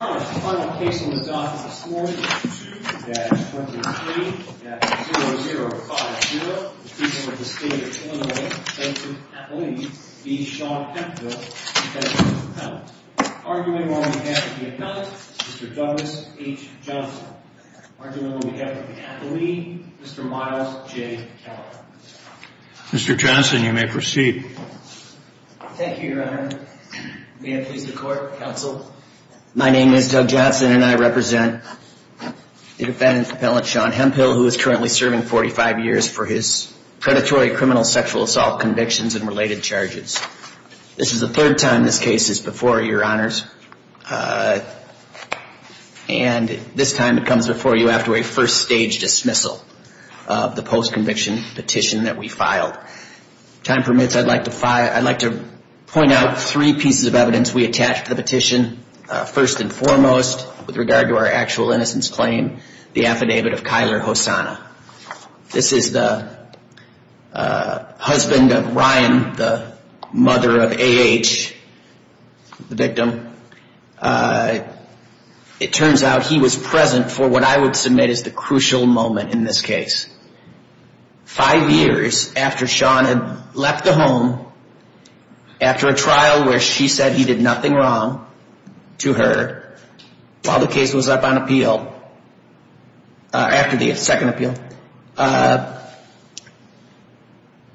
The final case on this dock is a score of 22-23-0050. The defendant is the state of Illinois, Jensen McAuley v. Sean Hemphill. The argument on behalf of the defendant, Mr. Douglas H. Johnson. The argument on behalf of the McAuley, Mr. Miles J. Keller. Mr. Johnson, you may proceed. Thank you, Your Honor. May it please the Court, Counsel. My name is Doug Johnson and I represent the defendant's appellant, Sean Hemphill, who is currently serving 45 years for his predatory criminal sexual assault convictions and related charges. This is the third time this case is before you, Your Honors. And this time it comes before you after a first stage dismissal of the post-conviction petition that we filed. If time permits, I'd like to point out three pieces of evidence we attached to the petition. First and foremost, with regard to our actual innocence claim, the affidavit of Kyler Hosanna. This is the husband of Ryan, the mother of A.H., the victim. It turns out he was present for what I would submit is the crucial moment in this case. Five years after Sean had left the home, after a trial where she said he did nothing wrong to her, while the case was up on appeal, after the second appeal,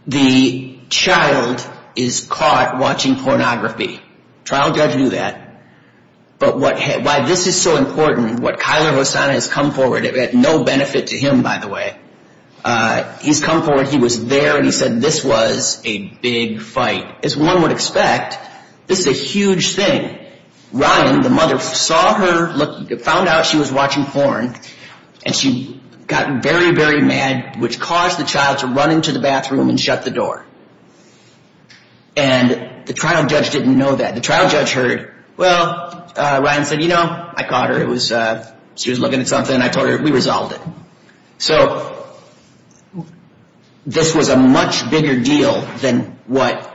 the child is caught watching pornography. Trial judge knew that. But why this is so important, what Kyler Hosanna has come forward, it had no benefit to him, by the way, he's come forward, he was there, and he said this was a big fight. As one would expect, this is a huge thing. Ryan, the mother, saw her, found out she was watching porn, and she got very, very mad, which caused the child to run into the bathroom and shut the door. And the trial judge didn't know that. The trial judge heard, well, Ryan said, you know, I caught her, she was looking at something, I told her, we resolved it. So this was a much bigger deal than what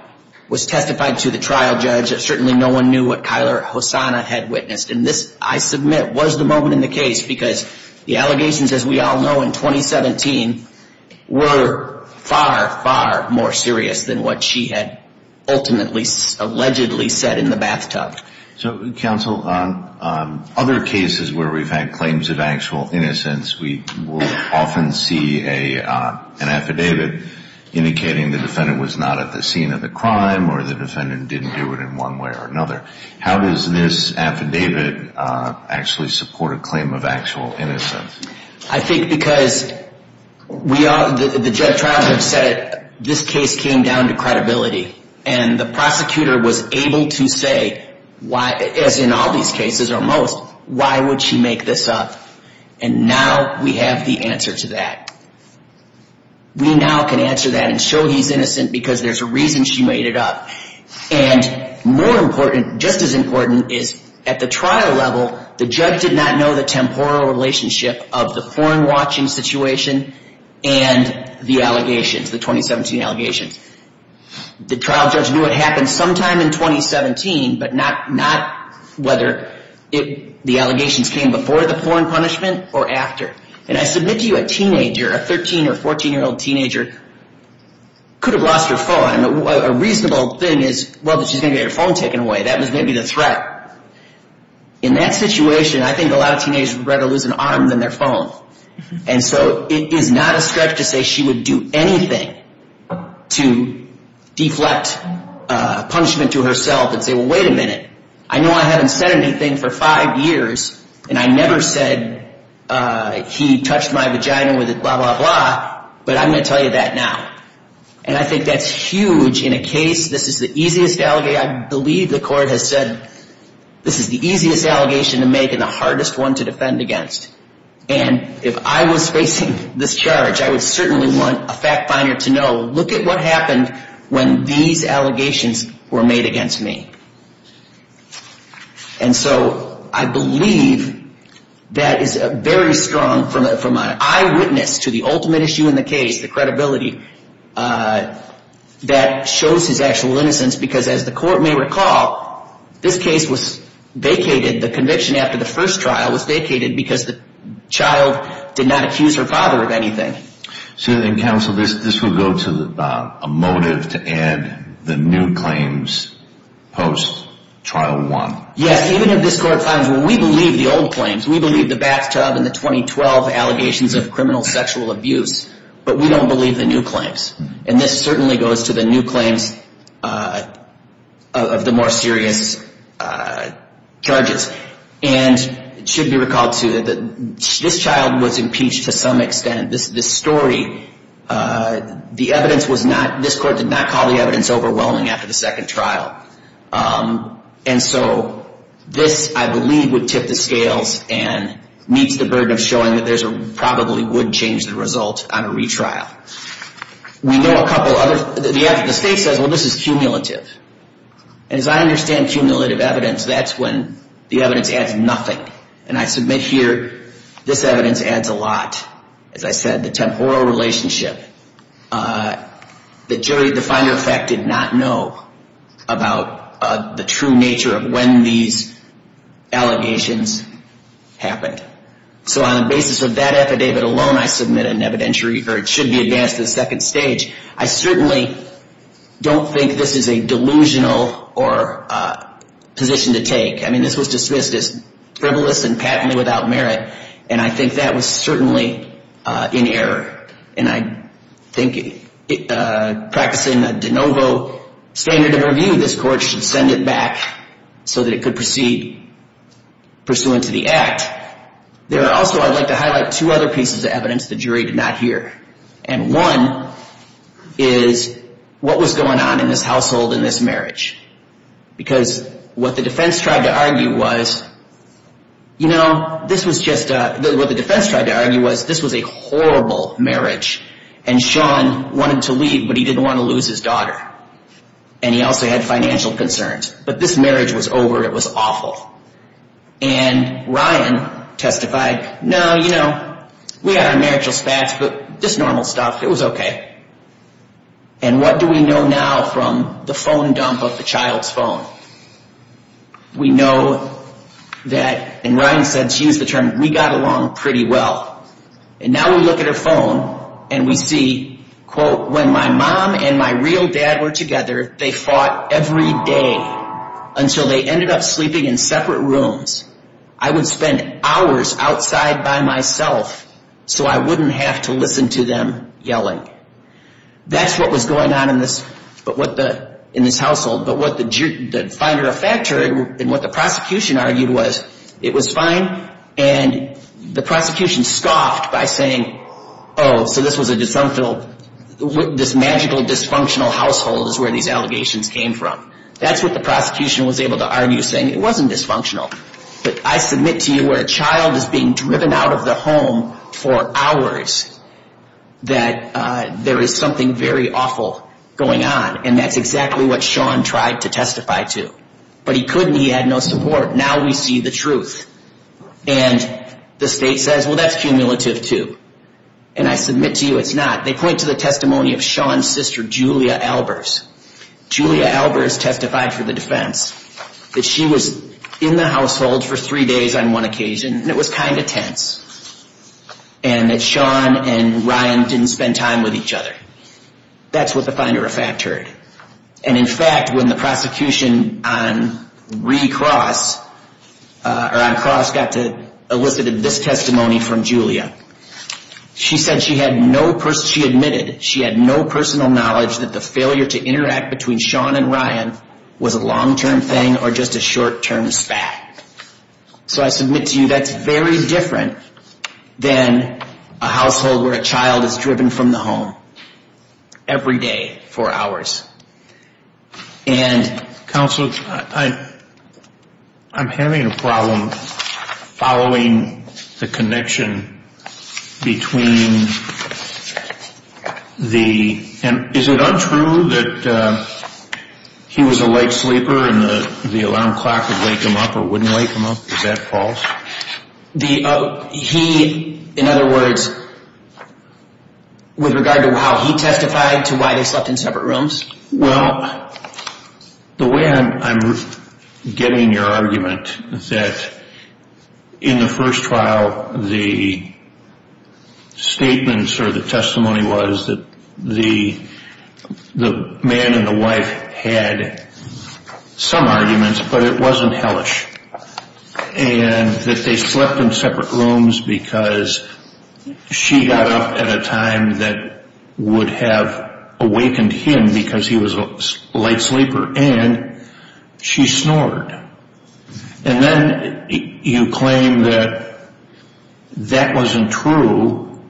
was testified to the trial judge. Certainly no one knew what Kyler Hosanna had witnessed. And this, I submit, was the moment in the case, because the allegations, as we all know, in 2017, were far, far more serious than what she had ultimately, allegedly said in the bathtub. So, counsel, other cases where we've had claims of actual innocence, we will often see an affidavit indicating the defendant was not at the scene of the crime, or the defendant didn't do it in one way or another. How does this affidavit actually support a claim of actual innocence? I think because the trial judge said this case came down to credibility. And the prosecutor was able to say, as in all these cases, or most, why would she make this up? And now we have the answer to that. We now can answer that and show he's innocent because there's a reason she made it up. And more important, just as important, is at the trial level, the judge did not know the temporal relationship of the porn watching situation and the allegations, the 2017 allegations. The trial judge knew it happened sometime in 2017, but not whether the allegations came before the porn punishment or after. And I submit to you a teenager, a 13 or 14-year-old teenager, could have lost her phone. A reasonable thing is, well, she's going to get her phone taken away. That was maybe the threat. In that situation, I think a lot of teenagers would rather lose an arm than their phone. And so it is not a stretch to say she would do anything to deflect punishment to herself and say, well, wait a minute. I know I haven't said anything for five years, and I never said he touched my vagina with blah, blah, blah, but I'm going to tell you that now. And I think that's huge in a case. This is the easiest allegation. I believe the court has said this is the easiest allegation to make and the hardest one to defend against. And if I was facing this charge, I would certainly want a fact finder to know, look at what happened when these allegations were made against me. And so I believe that is very strong from an eyewitness to the ultimate issue in the case, the credibility, that shows his actual innocence. Because as the court may recall, this case was vacated. The conviction after the first trial was vacated because the child did not accuse her father of anything. So then, counsel, this will go to a motive to add the new claims post-trial one. Yes, even if this court finds, well, we believe the old claims. We believe the bathtub and the 2012 allegations of criminal sexual abuse, but we don't believe the new claims. And this certainly goes to the new claims of the more serious charges. And it should be recalled, too, that this child was impeached to some extent. This story, the evidence was not, this court did not call the evidence overwhelming after the second trial. And so this, I believe, would tip the scales and meets the burden of showing that there probably would change the result on a retrial. We know a couple other, the state says, well, this is cumulative. And as I understand cumulative evidence, that's when the evidence adds nothing. And I submit here, this evidence adds a lot. As I said, the temporal relationship. The jury, the finder of fact, did not know about the true nature of when these allegations happened. So on the basis of that affidavit alone, I submit an evidentiary, or it should be advanced to the second stage. I certainly don't think this is a delusional position to take. I mean, this was dismissed as frivolous and patently without merit, and I think that was certainly in error. And I think practicing a de novo standard of review, this court should send it back so that it could proceed pursuant to the act. There are also, I'd like to highlight two other pieces of evidence the jury did not hear. And one is what was going on in this household in this marriage. Because what the defense tried to argue was, you know, this was just a, what the defense tried to argue was, this was a horrible marriage. And Sean wanted to leave, but he didn't want to lose his daughter. And he also had financial concerns. But this marriage was over. It was awful. And Ryan testified, no, you know, we had our marital spats, but just normal stuff. It was okay. And what do we know now from the phone dump of the child's phone? We know that, and Ryan said, she used the term, we got along pretty well. And now we look at her phone and we see, quote, when my mom and my real dad were together, they fought every day until they ended up sleeping in separate rooms. I would spend hours outside by myself so I wouldn't have to listen to them yelling. That's what was going on in this household. But what the finder of fact heard and what the prosecution argued was, it was fine. And the prosecution scoffed by saying, oh, so this was a dysfunctional, this magical dysfunctional household is where these allegations came from. That's what the prosecution was able to argue, saying it wasn't dysfunctional. But I submit to you where a child is being driven out of the home for hours, that there is something very awful going on. And that's exactly what Sean tried to testify to. But he couldn't. He had no support. Now we see the truth. And the state says, well, that's cumulative too. And I submit to you it's not. They point to the testimony of Sean's sister, Julia Albers. Julia Albers testified for the defense that she was in the household for three days on one occasion. And it was kind of tense. And that Sean and Ryan didn't spend time with each other. That's what the finder of fact heard. And, in fact, when the prosecution on re-cross, or on cross got to elicit this testimony from Julia, she said she had no, she admitted she had no personal knowledge that the failure to interact between Sean and Ryan was a long-term thing or just a short-term spat. So I submit to you that's very different than a household where a child is driven from the home every day for hours. Counsel, I'm having a problem following the connection between the, and is it untrue that he was a late sleeper and the alarm clock would wake him up or wouldn't wake him up? Is that false? He, in other words, with regard to how he testified to why they slept in separate rooms? Well, the way I'm getting your argument is that in the first trial the statements or the testimony was that the man and the wife had some arguments, but it wasn't hellish. And that they slept in separate rooms because she got up at a time that would have awakened him because he was a late sleeper and she snored. And then you claim that that wasn't true.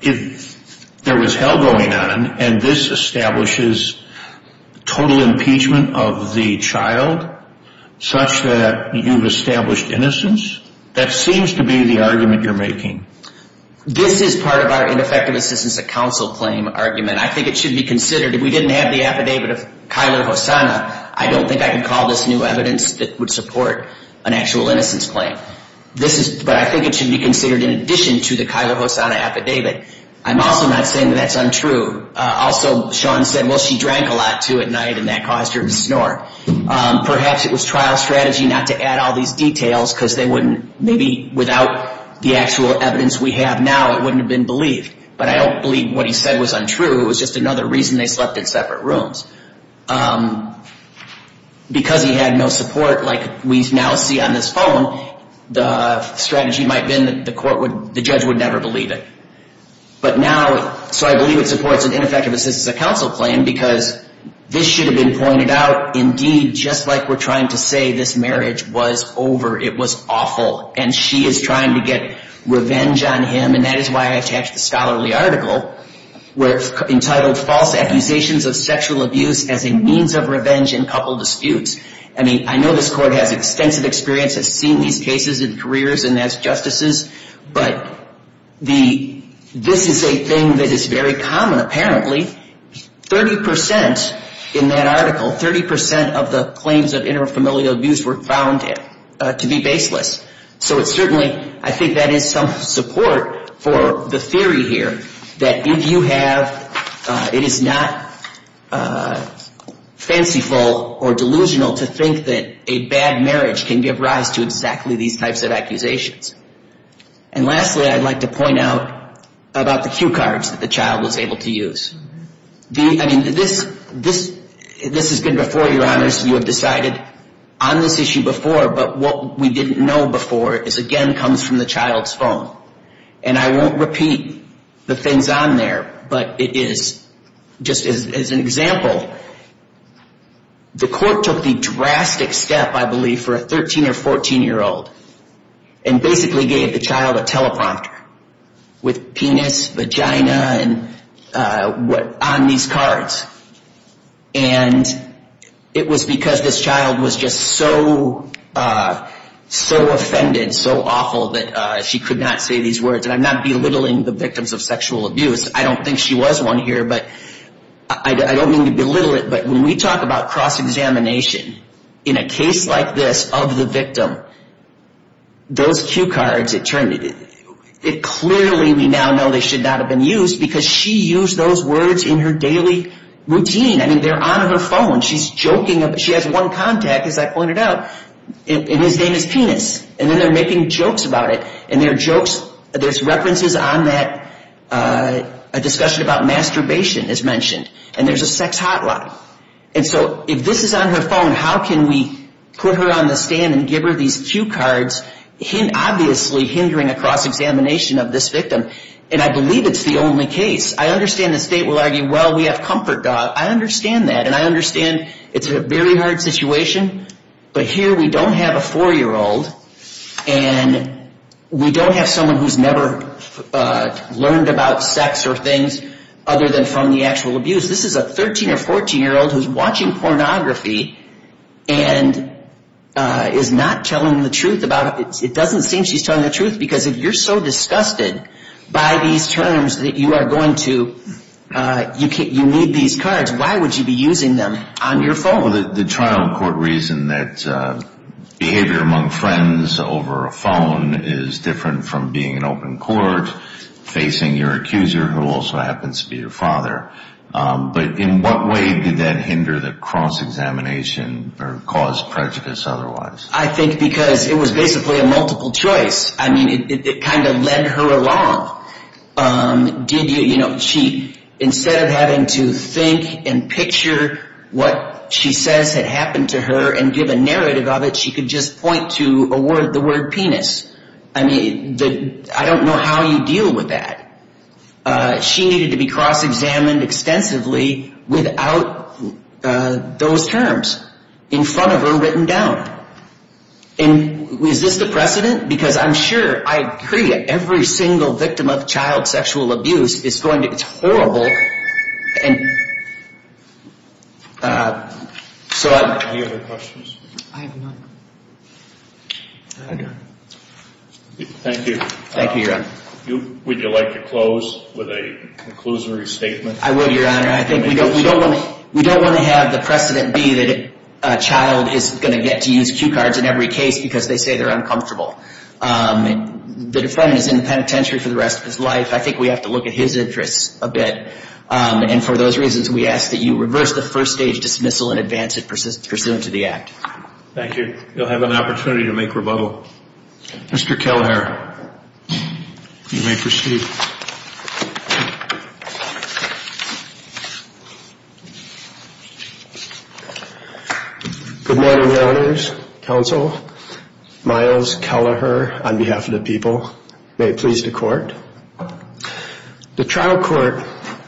If there was hell going on and this establishes total impeachment of the child, such that you've established innocence, that seems to be the argument you're making. This is part of our ineffective assistance at counsel claim argument. I think it should be considered. If we didn't have the affidavit of Kyler Hosanna, I don't think I could call this new evidence that would support an actual innocence claim. But I think it should be considered in addition to the Kyler Hosanna affidavit. I'm also not saying that that's untrue. Also, Sean said, well, she drank a lot too at night and that caused her to snore. Perhaps it was trial strategy not to add all these details because they wouldn't, maybe without the actual evidence we have now, it wouldn't have been believed. But I don't believe what he said was untrue. It was just another reason they slept in separate rooms. Because he had no support, like we now see on this phone, the strategy might have been that the judge would never believe it. But now, so I believe it supports an ineffective assistance at counsel claim because this should have been pointed out. Indeed, just like we're trying to say this marriage was over, it was awful, and she is trying to get revenge on him, and that is why I attached the scholarly article entitled False Accusations of Sexual Abuse as a Means of Revenge in Couple Disputes. I mean, I know this court has extensive experience of seeing these cases in careers and as justices, but this is a thing that is very common apparently. 30% in that article, 30% of the claims of inter-familial abuse were found to be baseless. So it's certainly, I think that is some support for the theory here that if you have, it is not fanciful or delusional to think that a bad marriage can give rise to exactly these types of accusations. And lastly, I'd like to point out about the cue cards that the child was able to use. I mean, this has been before, Your Honors, you have decided on this issue before, but what we didn't know before is again comes from the child's phone. And I won't repeat the things on there, but it is, just as an example, the court took the drastic step, I believe, for a 13 or 14-year-old and basically gave the child a teleprompter with penis, vagina on these cards. And it was because this child was just so offended, so awful, that she could not say these words. And I'm not belittling the victims of sexual abuse. I don't think she was one here, but I don't mean to belittle it, but when we talk about cross-examination in a case like this of the victim, those cue cards, it clearly we now know they should not have been used because she used those words in her daily routine. I mean, they're on her phone. She's joking. She has one contact, as I pointed out, and his name is Penis. And then they're making jokes about it. And they're jokes. There's references on that. A discussion about masturbation is mentioned. And there's a sex hotline. And so if this is on her phone, how can we put her on the stand and give her these cue cards, obviously hindering a cross-examination of this victim? And I believe it's the only case. I understand the state will argue, well, we have comfort dogs. I understand that. And I understand it's a very hard situation. But here we don't have a 4-year-old, and we don't have someone who's never learned about sex or things other than from the actual abuse. This is a 13- or 14-year-old who's watching pornography and is not telling the truth about it. It doesn't seem she's telling the truth because if you're so disgusted by these terms that you are going to, you need these cards, why would you be using them on your phone? The trial court reasoned that behavior among friends over a phone is different from being in open court, facing your accuser, who also happens to be your father. But in what way did that hinder the cross-examination or cause prejudice otherwise? I think because it was basically a multiple choice. I mean, it kind of led her along. Instead of having to think and picture what she says had happened to her and give a narrative of it, she could just point to the word penis. I mean, I don't know how you deal with that. She needed to be cross-examined extensively without those terms in front of her written down. And is this the precedent? Because I'm sure, I agree, every single victim of child sexual abuse is going to be horrible. Any other questions? I have none. Thank you. Thank you, Your Honor. Would you like to close with a conclusory statement? I would, Your Honor. I think we don't want to have the precedent be that a child is going to get to use cue cards in every case because they say they're uncomfortable. The defendant is in the penitentiary for the rest of his life. I think we have to look at his interests a bit. And for those reasons, we ask that you reverse the first-stage dismissal and advance it pursuant to the act. Thank you. You'll have an opportunity to make rebuttal. Mr. Kelleher, you may proceed. Good morning, Governors, Counsel, Myles Kelleher on behalf of the people. May it please the Court. The trial court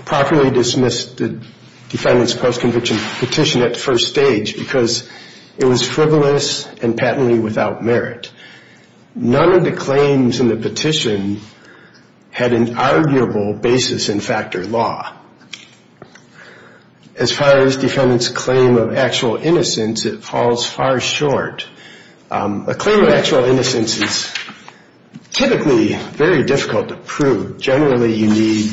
properly dismissed the defendant's post-conviction petition at first stage because it was frivolous and patently without merit. None of the claims in the petition had an arguable basis in factor law. As far as defendant's claim of actual innocence, it falls far short. A claim of actual innocence is typically very difficult to prove. Generally, you need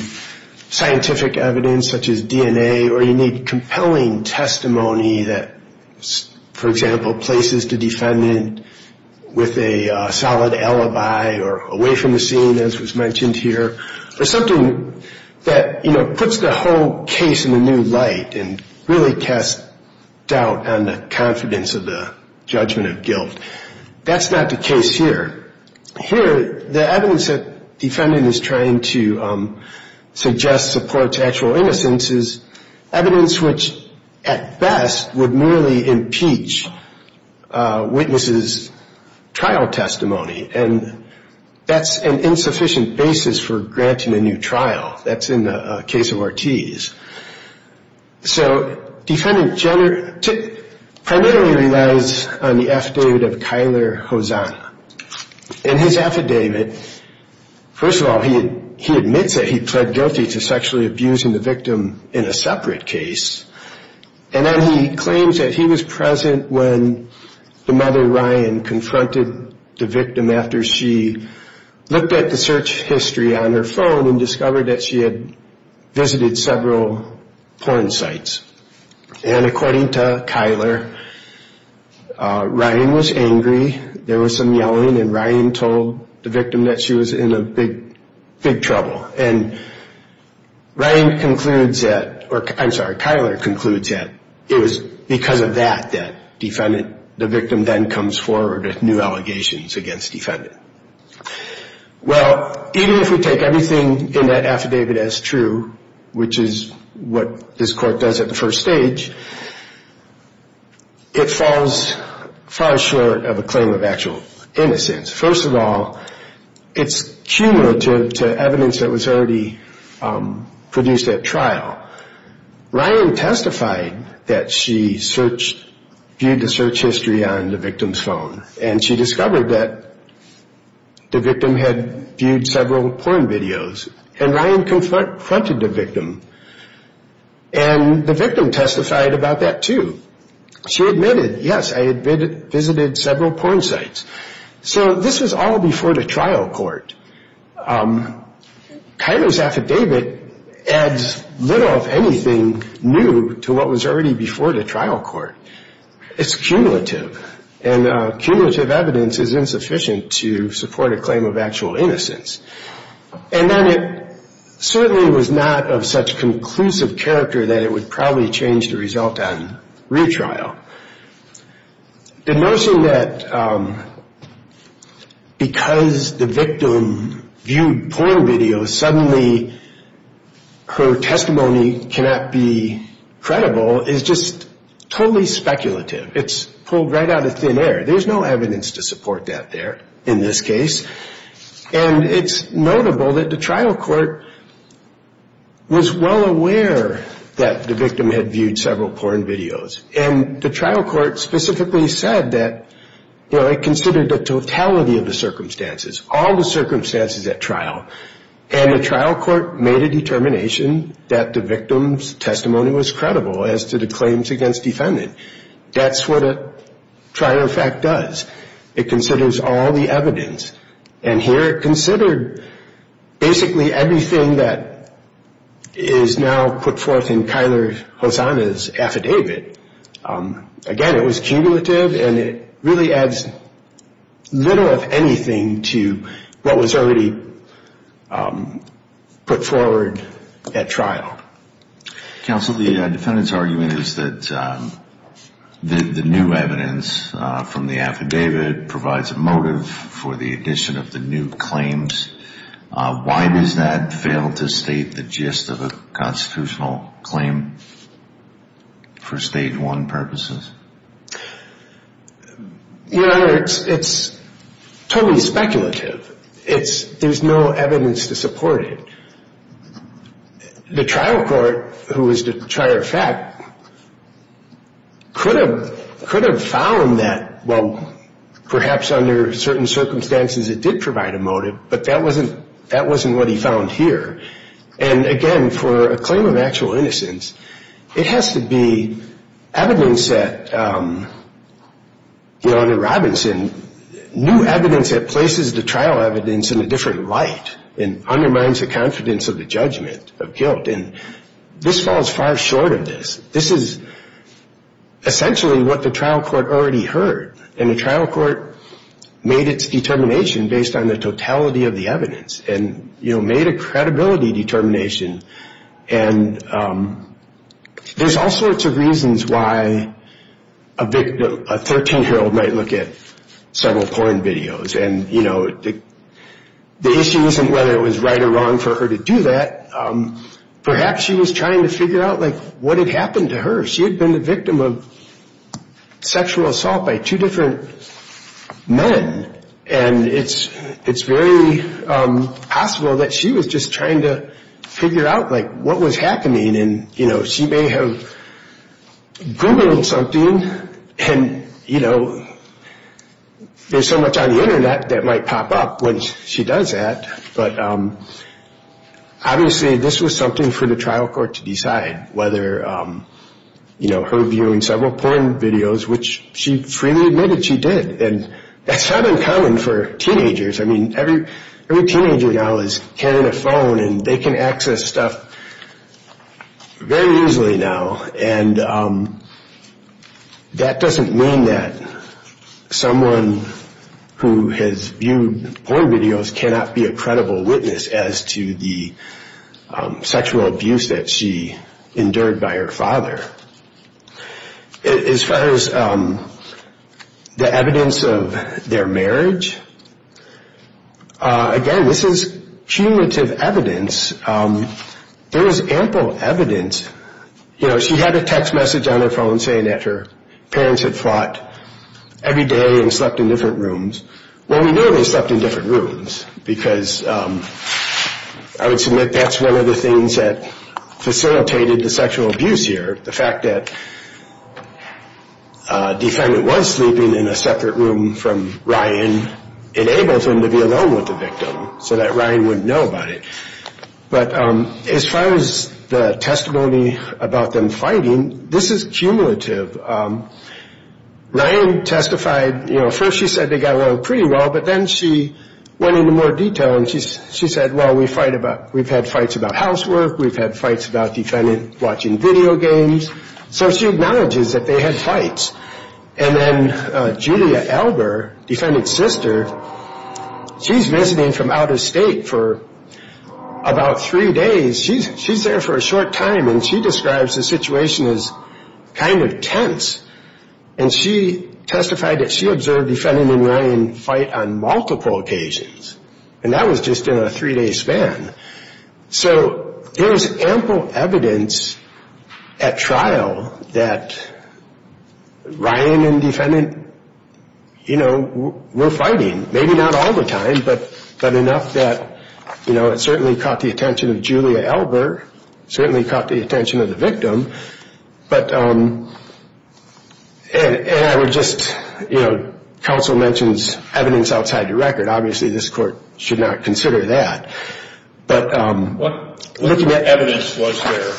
scientific evidence such as DNA or you need compelling testimony that, for example, places the defendant with a solid alibi or away from the scene, as was mentioned here, or something that, you know, puts the whole case in a new light and really casts doubt on the confidence of the judgment of guilt. That's not the case here. Here, the evidence that the defendant is trying to suggest supports actual innocence is evidence which, at best, would merely impeach witnesses' trial testimony, and that's an insufficient basis for granting a new trial. That's in the case of Ortiz. So defendant Jenner primarily relies on the affidavit of Kyler Hosanna. In his affidavit, first of all, he admits that he pled guilty to sexually abusing the victim in a separate case, and then he claims that he was present when the mother, Ryan, confronted the victim after she looked at the search history on her phone and discovered that she had visited several porn sites. And according to Kyler, Ryan was angry. There was some yelling, and Ryan told the victim that she was in big trouble. And Ryan concludes that, or I'm sorry, Kyler concludes that it was because of that that the victim then comes forward with new allegations against the defendant. Well, even if we take everything in that affidavit as true, which is what this court does at the first stage, it falls far short of a claim of actual innocence. First of all, it's cumulative to evidence that was already produced at trial. Ryan testified that she viewed the search history on the victim's phone, and she discovered that the victim had viewed several porn videos. And Ryan confronted the victim, and the victim testified about that too. She admitted, yes, I had visited several porn sites. So this was all before the trial court. Kyler's affidavit adds little, if anything, new to what was already before the trial court. It's cumulative, and cumulative evidence is insufficient to support a claim of actual innocence. And then it certainly was not of such conclusive character that it would probably change the result on retrial. The notion that because the victim viewed porn videos, suddenly her testimony cannot be credible is just totally speculative. It's pulled right out of thin air. There's no evidence to support that there in this case. And it's notable that the trial court was well aware that the victim had viewed several porn videos. And the trial court specifically said that it considered the totality of the circumstances, all the circumstances at trial. And the trial court made a determination that the victim's testimony was credible as to the claims against defendant. That's what a trial fact does. It considers all the evidence. And here it considered basically everything that is now put forth in Kyler Hosanna's affidavit. Again, it was cumulative, and it really adds little, if anything, to what was already put forward at trial. Counsel, the defendant's argument is that the new evidence from the affidavit provides a motive for the addition of the new claims. Why does that fail to state the gist of a constitutional claim for stage one purposes? Your Honor, it's totally speculative. There's no evidence to support it. The trial court, who was the trier of fact, could have found that, well, perhaps under certain circumstances it did provide a motive, but that wasn't what he found here. And, again, for a claim of actual innocence, it has to be evidence that, Your Honor Robinson, new evidence that places the trial evidence in a different light and undermines the confidence of the judgment of guilt. And this falls far short of this. This is essentially what the trial court already heard, and the trial court made its determination based on the totality of the evidence and, you know, made a credibility determination. And there's all sorts of reasons why a victim, a 13-year-old, might look at several porn videos. And, you know, the issue isn't whether it was right or wrong for her to do that. Perhaps she was trying to figure out, like, what had happened to her. She had been the victim of sexual assault by two different men, and it's very possible that she was just trying to figure out, like, what was happening. And, you know, she may have Googled something, and, you know, there's so much on the Internet that might pop up when she does that. But, obviously, this was something for the trial court to decide, whether, you know, her viewing several porn videos, which she freely admitted she did. And that's not uncommon for teenagers. I mean, every teenager now is carrying a phone, and they can access stuff very easily now. And that doesn't mean that someone who has viewed porn videos cannot be a credible witness as to the sexual abuse that she endured by her father. As far as the evidence of their marriage, again, this is cumulative evidence. There is ample evidence. You know, she had a text message on her phone saying that her parents had fought every day and slept in different rooms. Well, we know they slept in different rooms, because I would submit that's one of the things that facilitated the sexual abuse here, the fact that a defendant was sleeping in a separate room from Ryan enabled them to be alone with the victim so that Ryan wouldn't know about it. But as far as the testimony about them fighting, this is cumulative. Ryan testified, you know, first she said they got along pretty well, but then she went into more detail, and she said, well, we've had fights about housework. We've had fights about the defendant watching video games. So she acknowledges that they had fights. And then Julia Elber, defendant's sister, she's visiting from out of state for about three days. She's there for a short time, and she describes the situation as kind of tense. And she testified that she observed the defendant and Ryan fight on multiple occasions, and that was just in a three-day span. So there's ample evidence at trial that Ryan and defendant, you know, were fighting. Maybe not all the time, but enough that, you know, it certainly caught the attention of Julia Elber, And I would just, you know, counsel mentions evidence outside the record. Obviously, this court should not consider that. But what evidence was there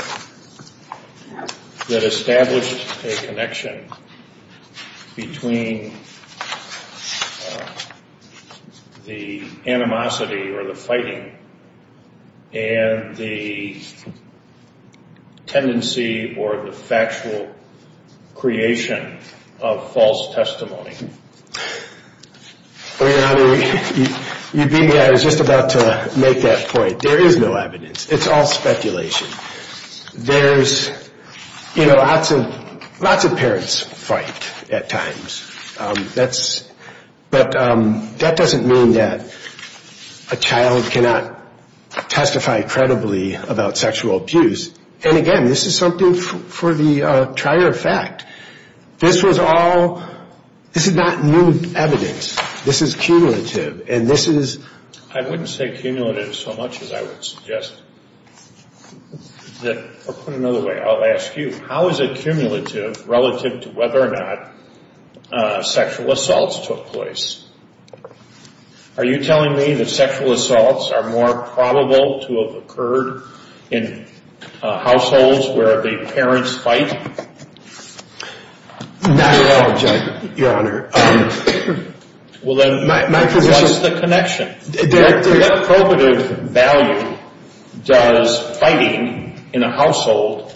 that established a connection between the animosity or the fighting and the tendency or the factual creation of false testimony? Well, Your Honor, you beat me. I was just about to make that point. There is no evidence. It's all speculation. There's, you know, lots of parents fight at times. But that doesn't mean that a child cannot testify credibly about sexual abuse. And, again, this is something for the trier of fact. This was all ñ this is not new evidence. This is cumulative, and this is ñ I wouldn't say cumulative so much as I would suggest that ñ or put it another way. I'll ask you, how is it cumulative relative to whether or not sexual assaults took place? Are you telling me that sexual assaults are more probable to have occurred in households where the parents fight? Not at all, Judge, Your Honor. Well, then, what's the connection? What probative value does fighting in a household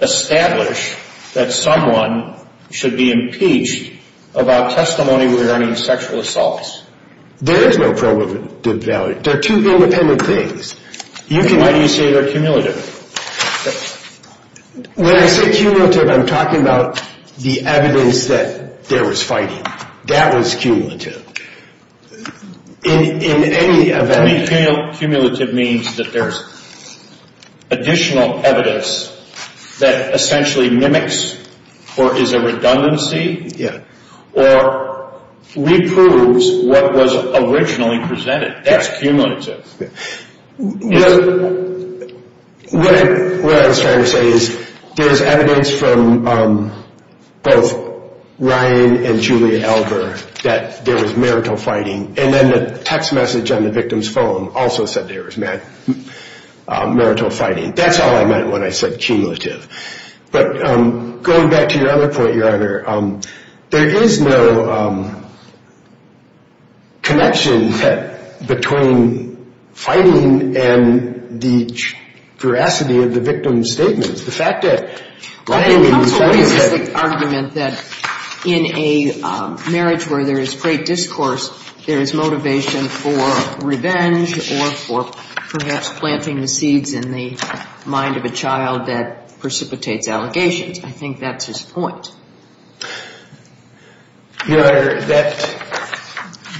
establish that someone should be impeached about testimony regarding sexual assaults? There is no probative value. They're two independent things. Why do you say they're cumulative? When I say cumulative, I'm talking about the evidence that there was fighting. That was cumulative. In any event ñ I think cumulative means that there's additional evidence that essentially mimics or is a redundancy. Yeah. That's cumulative. What I was trying to say is there's evidence from both Ryan and Julia Elber that there was marital fighting, and then the text message on the victim's phone also said there was marital fighting. That's all I meant when I said cumulative. But going back to your other point, Your Honor, there is no connection between fighting and the veracity of the victim's statements. The fact that Ryan and Julia said ñ Well, the counsel raises the argument that in a marriage where there is great discourse, there is motivation for revenge or for perhaps planting the seeds in the mind of a child that precipitates allegations. I think that's his point. Your Honor,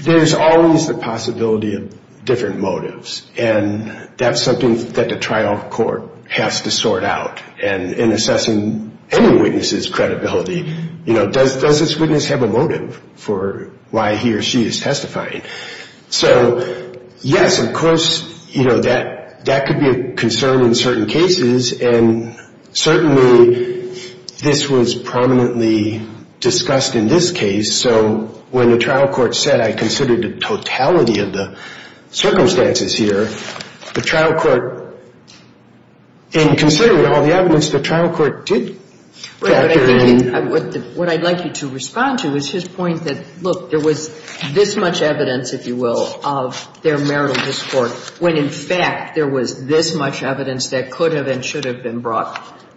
there's always the possibility of different motives, and that's something that the trial court has to sort out. In assessing any witness's credibility, does this witness have a motive for why he or she is testifying? So, yes, of course, that could be a concern in certain cases, and certainly this was prominently discussed in this case. So when the trial court said, I consider the totality of the circumstances here, the trial court in considering all the evidence, the trial court did factor in. What I'd like you to respond to is his point that, look, there was this much evidence, if you will, of their marital discourse when in fact there was this much evidence that could have and should have been brought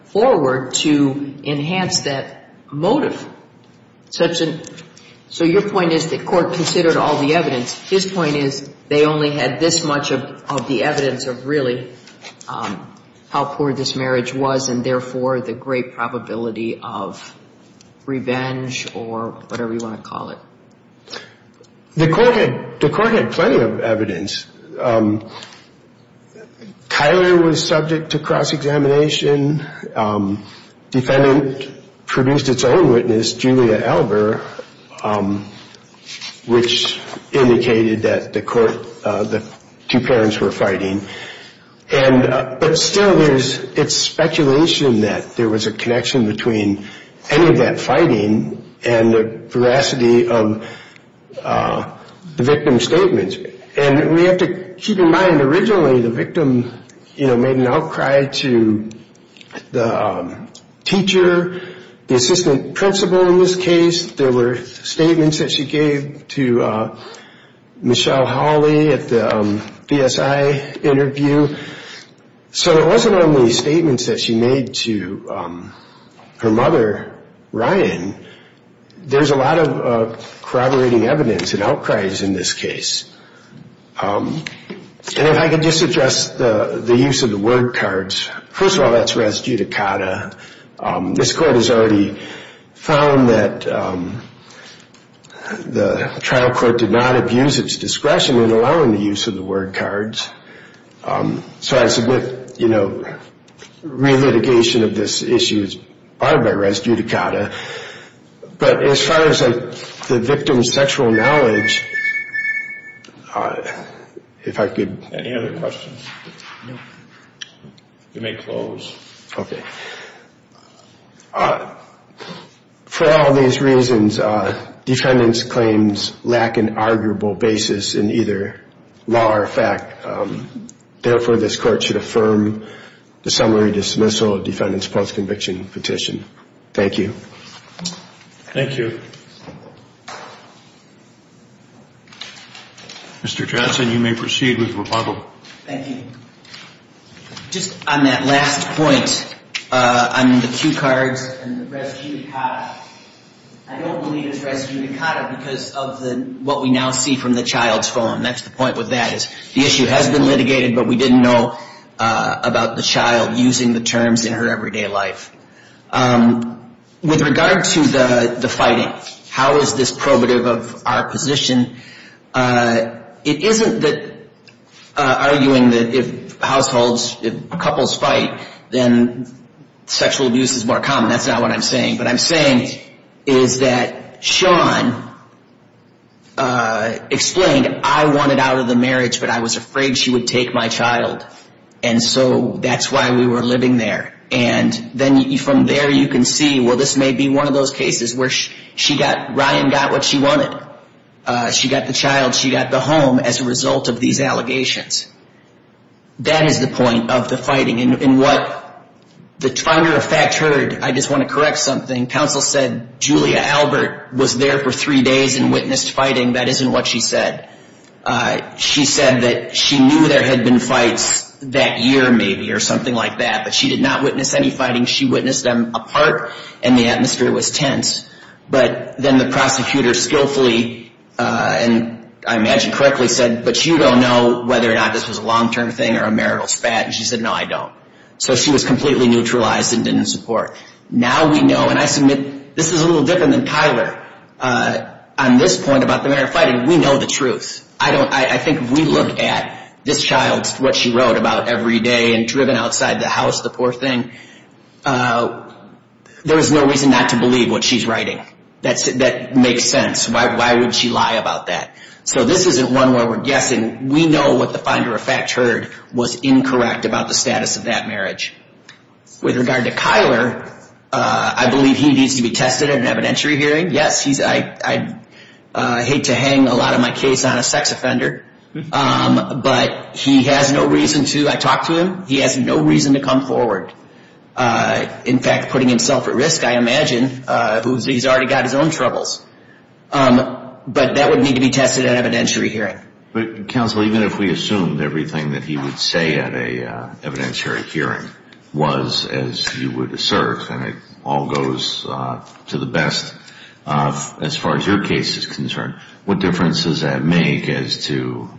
forward to enhance that motive. So your point is the court considered all the evidence. His point is they only had this much of the evidence of really how poor this marriage was and therefore the great probability of revenge or whatever you want to call it. The court had plenty of evidence. Kyler was subject to cross-examination. Defendant produced its own witness, Julia Alber, which indicated that the two parents were fighting. But still, it's speculation that there was a connection between any of that fighting and the veracity of the victim's statements. And we have to keep in mind originally the victim made an outcry to the teacher, the assistant principal in this case. There were statements that she gave to Michelle Hawley at the BSI interview. So it wasn't only statements that she made to her mother, Ryan. There's a lot of corroborating evidence and outcries in this case. And if I could just address the use of the word cards. First of all, that's res judicata. This court has already found that the trial court did not abuse its discretion in allowing the use of the word cards. So I submit, you know, re-litigation of this issue is barred by res judicata. But as far as the victim's sexual knowledge, if I could... Any other questions? You may close. Okay. For all these reasons, defendants' claims lack an arguable basis in either law or fact. Therefore, this court should affirm the summary dismissal of defendants' post-conviction petition. Thank you. Thank you. Mr. Johnson, you may proceed with rebuttal. Thank you. Just on that last point on the cue cards and the res judicata, I don't believe it's res judicata because of what we now see from the child's phone. And that's the point with that is the issue has been litigated, but we didn't know about the child using the terms in her everyday life. With regard to the fighting, how is this probative of our position? It isn't that arguing that if households, if couples fight, then sexual abuse is more common. That's not what I'm saying. What I'm saying is that Sean explained, I wanted out of the marriage, but I was afraid she would take my child. And so that's why we were living there. And then from there you can see, well, this may be one of those cases where she got, Ryan got what she wanted. She got the child. She got the home as a result of these allegations. That is the point of the fighting. And what the finder of fact heard, I just want to correct something, counsel said Julia Albert was there for three days and witnessed fighting. That isn't what she said. She said that she knew there had been fights that year maybe or something like that, but she did not witness any fighting. She witnessed them apart and the atmosphere was tense. But then the prosecutor skillfully and I imagine correctly said, but you don't know whether or not this was a long-term thing or a marital spat. And she said, no, I don't. So she was completely neutralized and didn't support. Now we know, and I submit this is a little different than Tyler on this point about the marital fighting. We know the truth. I think if we look at this child, what she wrote about every day and driven outside the house, the poor thing, there is no reason not to believe what she's writing. That makes sense. Why would she lie about that? So this isn't one where we're guessing. We know what the finder of fact heard was incorrect about the status of that marriage. With regard to Tyler, I believe he needs to be tested at an evidentiary hearing. Yes, I hate to hang a lot of my case on a sex offender, but he has no reason to. I talked to him. He has no reason to come forward. In fact, putting himself at risk, I imagine, he's already got his own troubles. But that would need to be tested at an evidentiary hearing. Counsel, even if we assumed everything that he would say at an evidentiary hearing was as you would assert, and it all goes to the best as far as your case is concerned, what difference does that make as to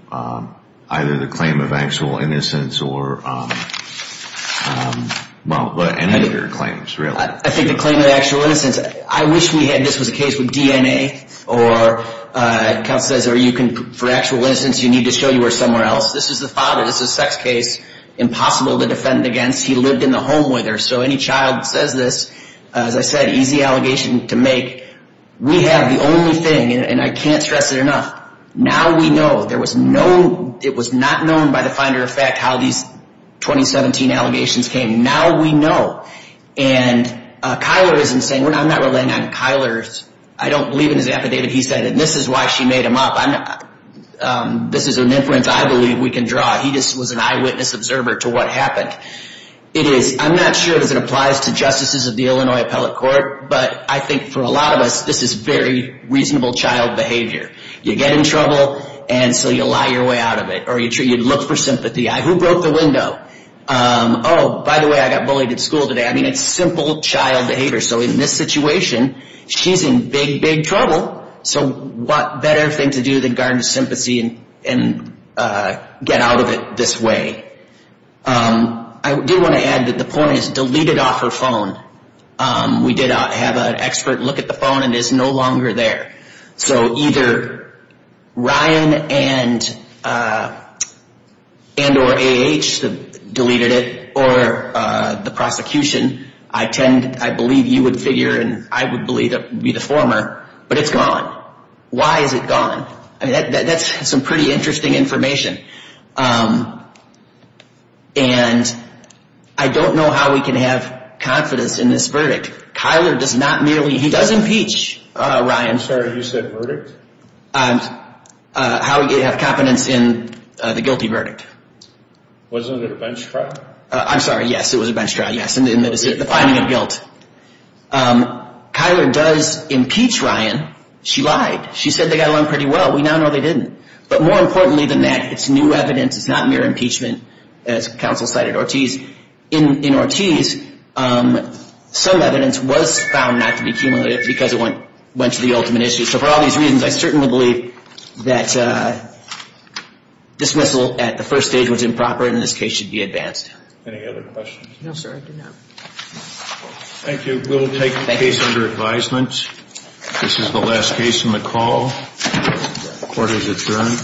either the claim of actual innocence or any of your claims, really? I think the claim of actual innocence, I wish we had this was a case with DNA, or counsel says, for actual innocence, you need to show you were somewhere else. This is the father. This is a sex case, impossible to defend against. He lived in the home with her. So any child says this, as I said, easy allegation to make. We have the only thing, and I can't stress it enough, now we know. There was no, it was not known by the finder of fact how these 2017 allegations came. Now we know. And Kyler isn't saying, I'm not relying on Kyler. I don't believe in his affidavit. He said, and this is why she made him up. This is an inference I believe we can draw. He just was an eyewitness observer to what happened. It is, I'm not sure if it applies to justices of the Illinois Appellate Court, but I think for a lot of us, this is very reasonable child behavior. You get in trouble, and so you lie your way out of it, or you look for sympathy. Who broke the window? Oh, by the way, I got bullied at school today. I mean, it's simple child behavior. So in this situation, she's in big, big trouble. So what better thing to do than garner sympathy and get out of it this way? I do want to add that the point is deleted off her phone. We did have an expert look at the phone, and it's no longer there. So either Ryan and or A.H. deleted it, or the prosecution. I believe you would figure, and I would believe it would be the former, but it's gone. Why is it gone? I mean, that's some pretty interesting information. And I don't know how we can have confidence in this verdict. Kyler does not merely, he does impeach Ryan. I'm sorry, you said verdict? How we have confidence in the guilty verdict. Wasn't it a bench trial? I'm sorry, yes, it was a bench trial, yes, in the finding of guilt. Kyler does impeach Ryan. She lied. She said they got along pretty well. We now know they didn't. But more importantly than that, it's new evidence. It's not mere impeachment, as counsel cited Ortiz. In Ortiz, some evidence was found not to be cumulative because it went to the ultimate issue. So for all these reasons, I certainly believe that dismissal at the first stage was improper, and this case should be advanced. Any other questions? No, sir, I do not. Thank you. We'll take the case under advisement. This is the last case on the call. Court is adjourned.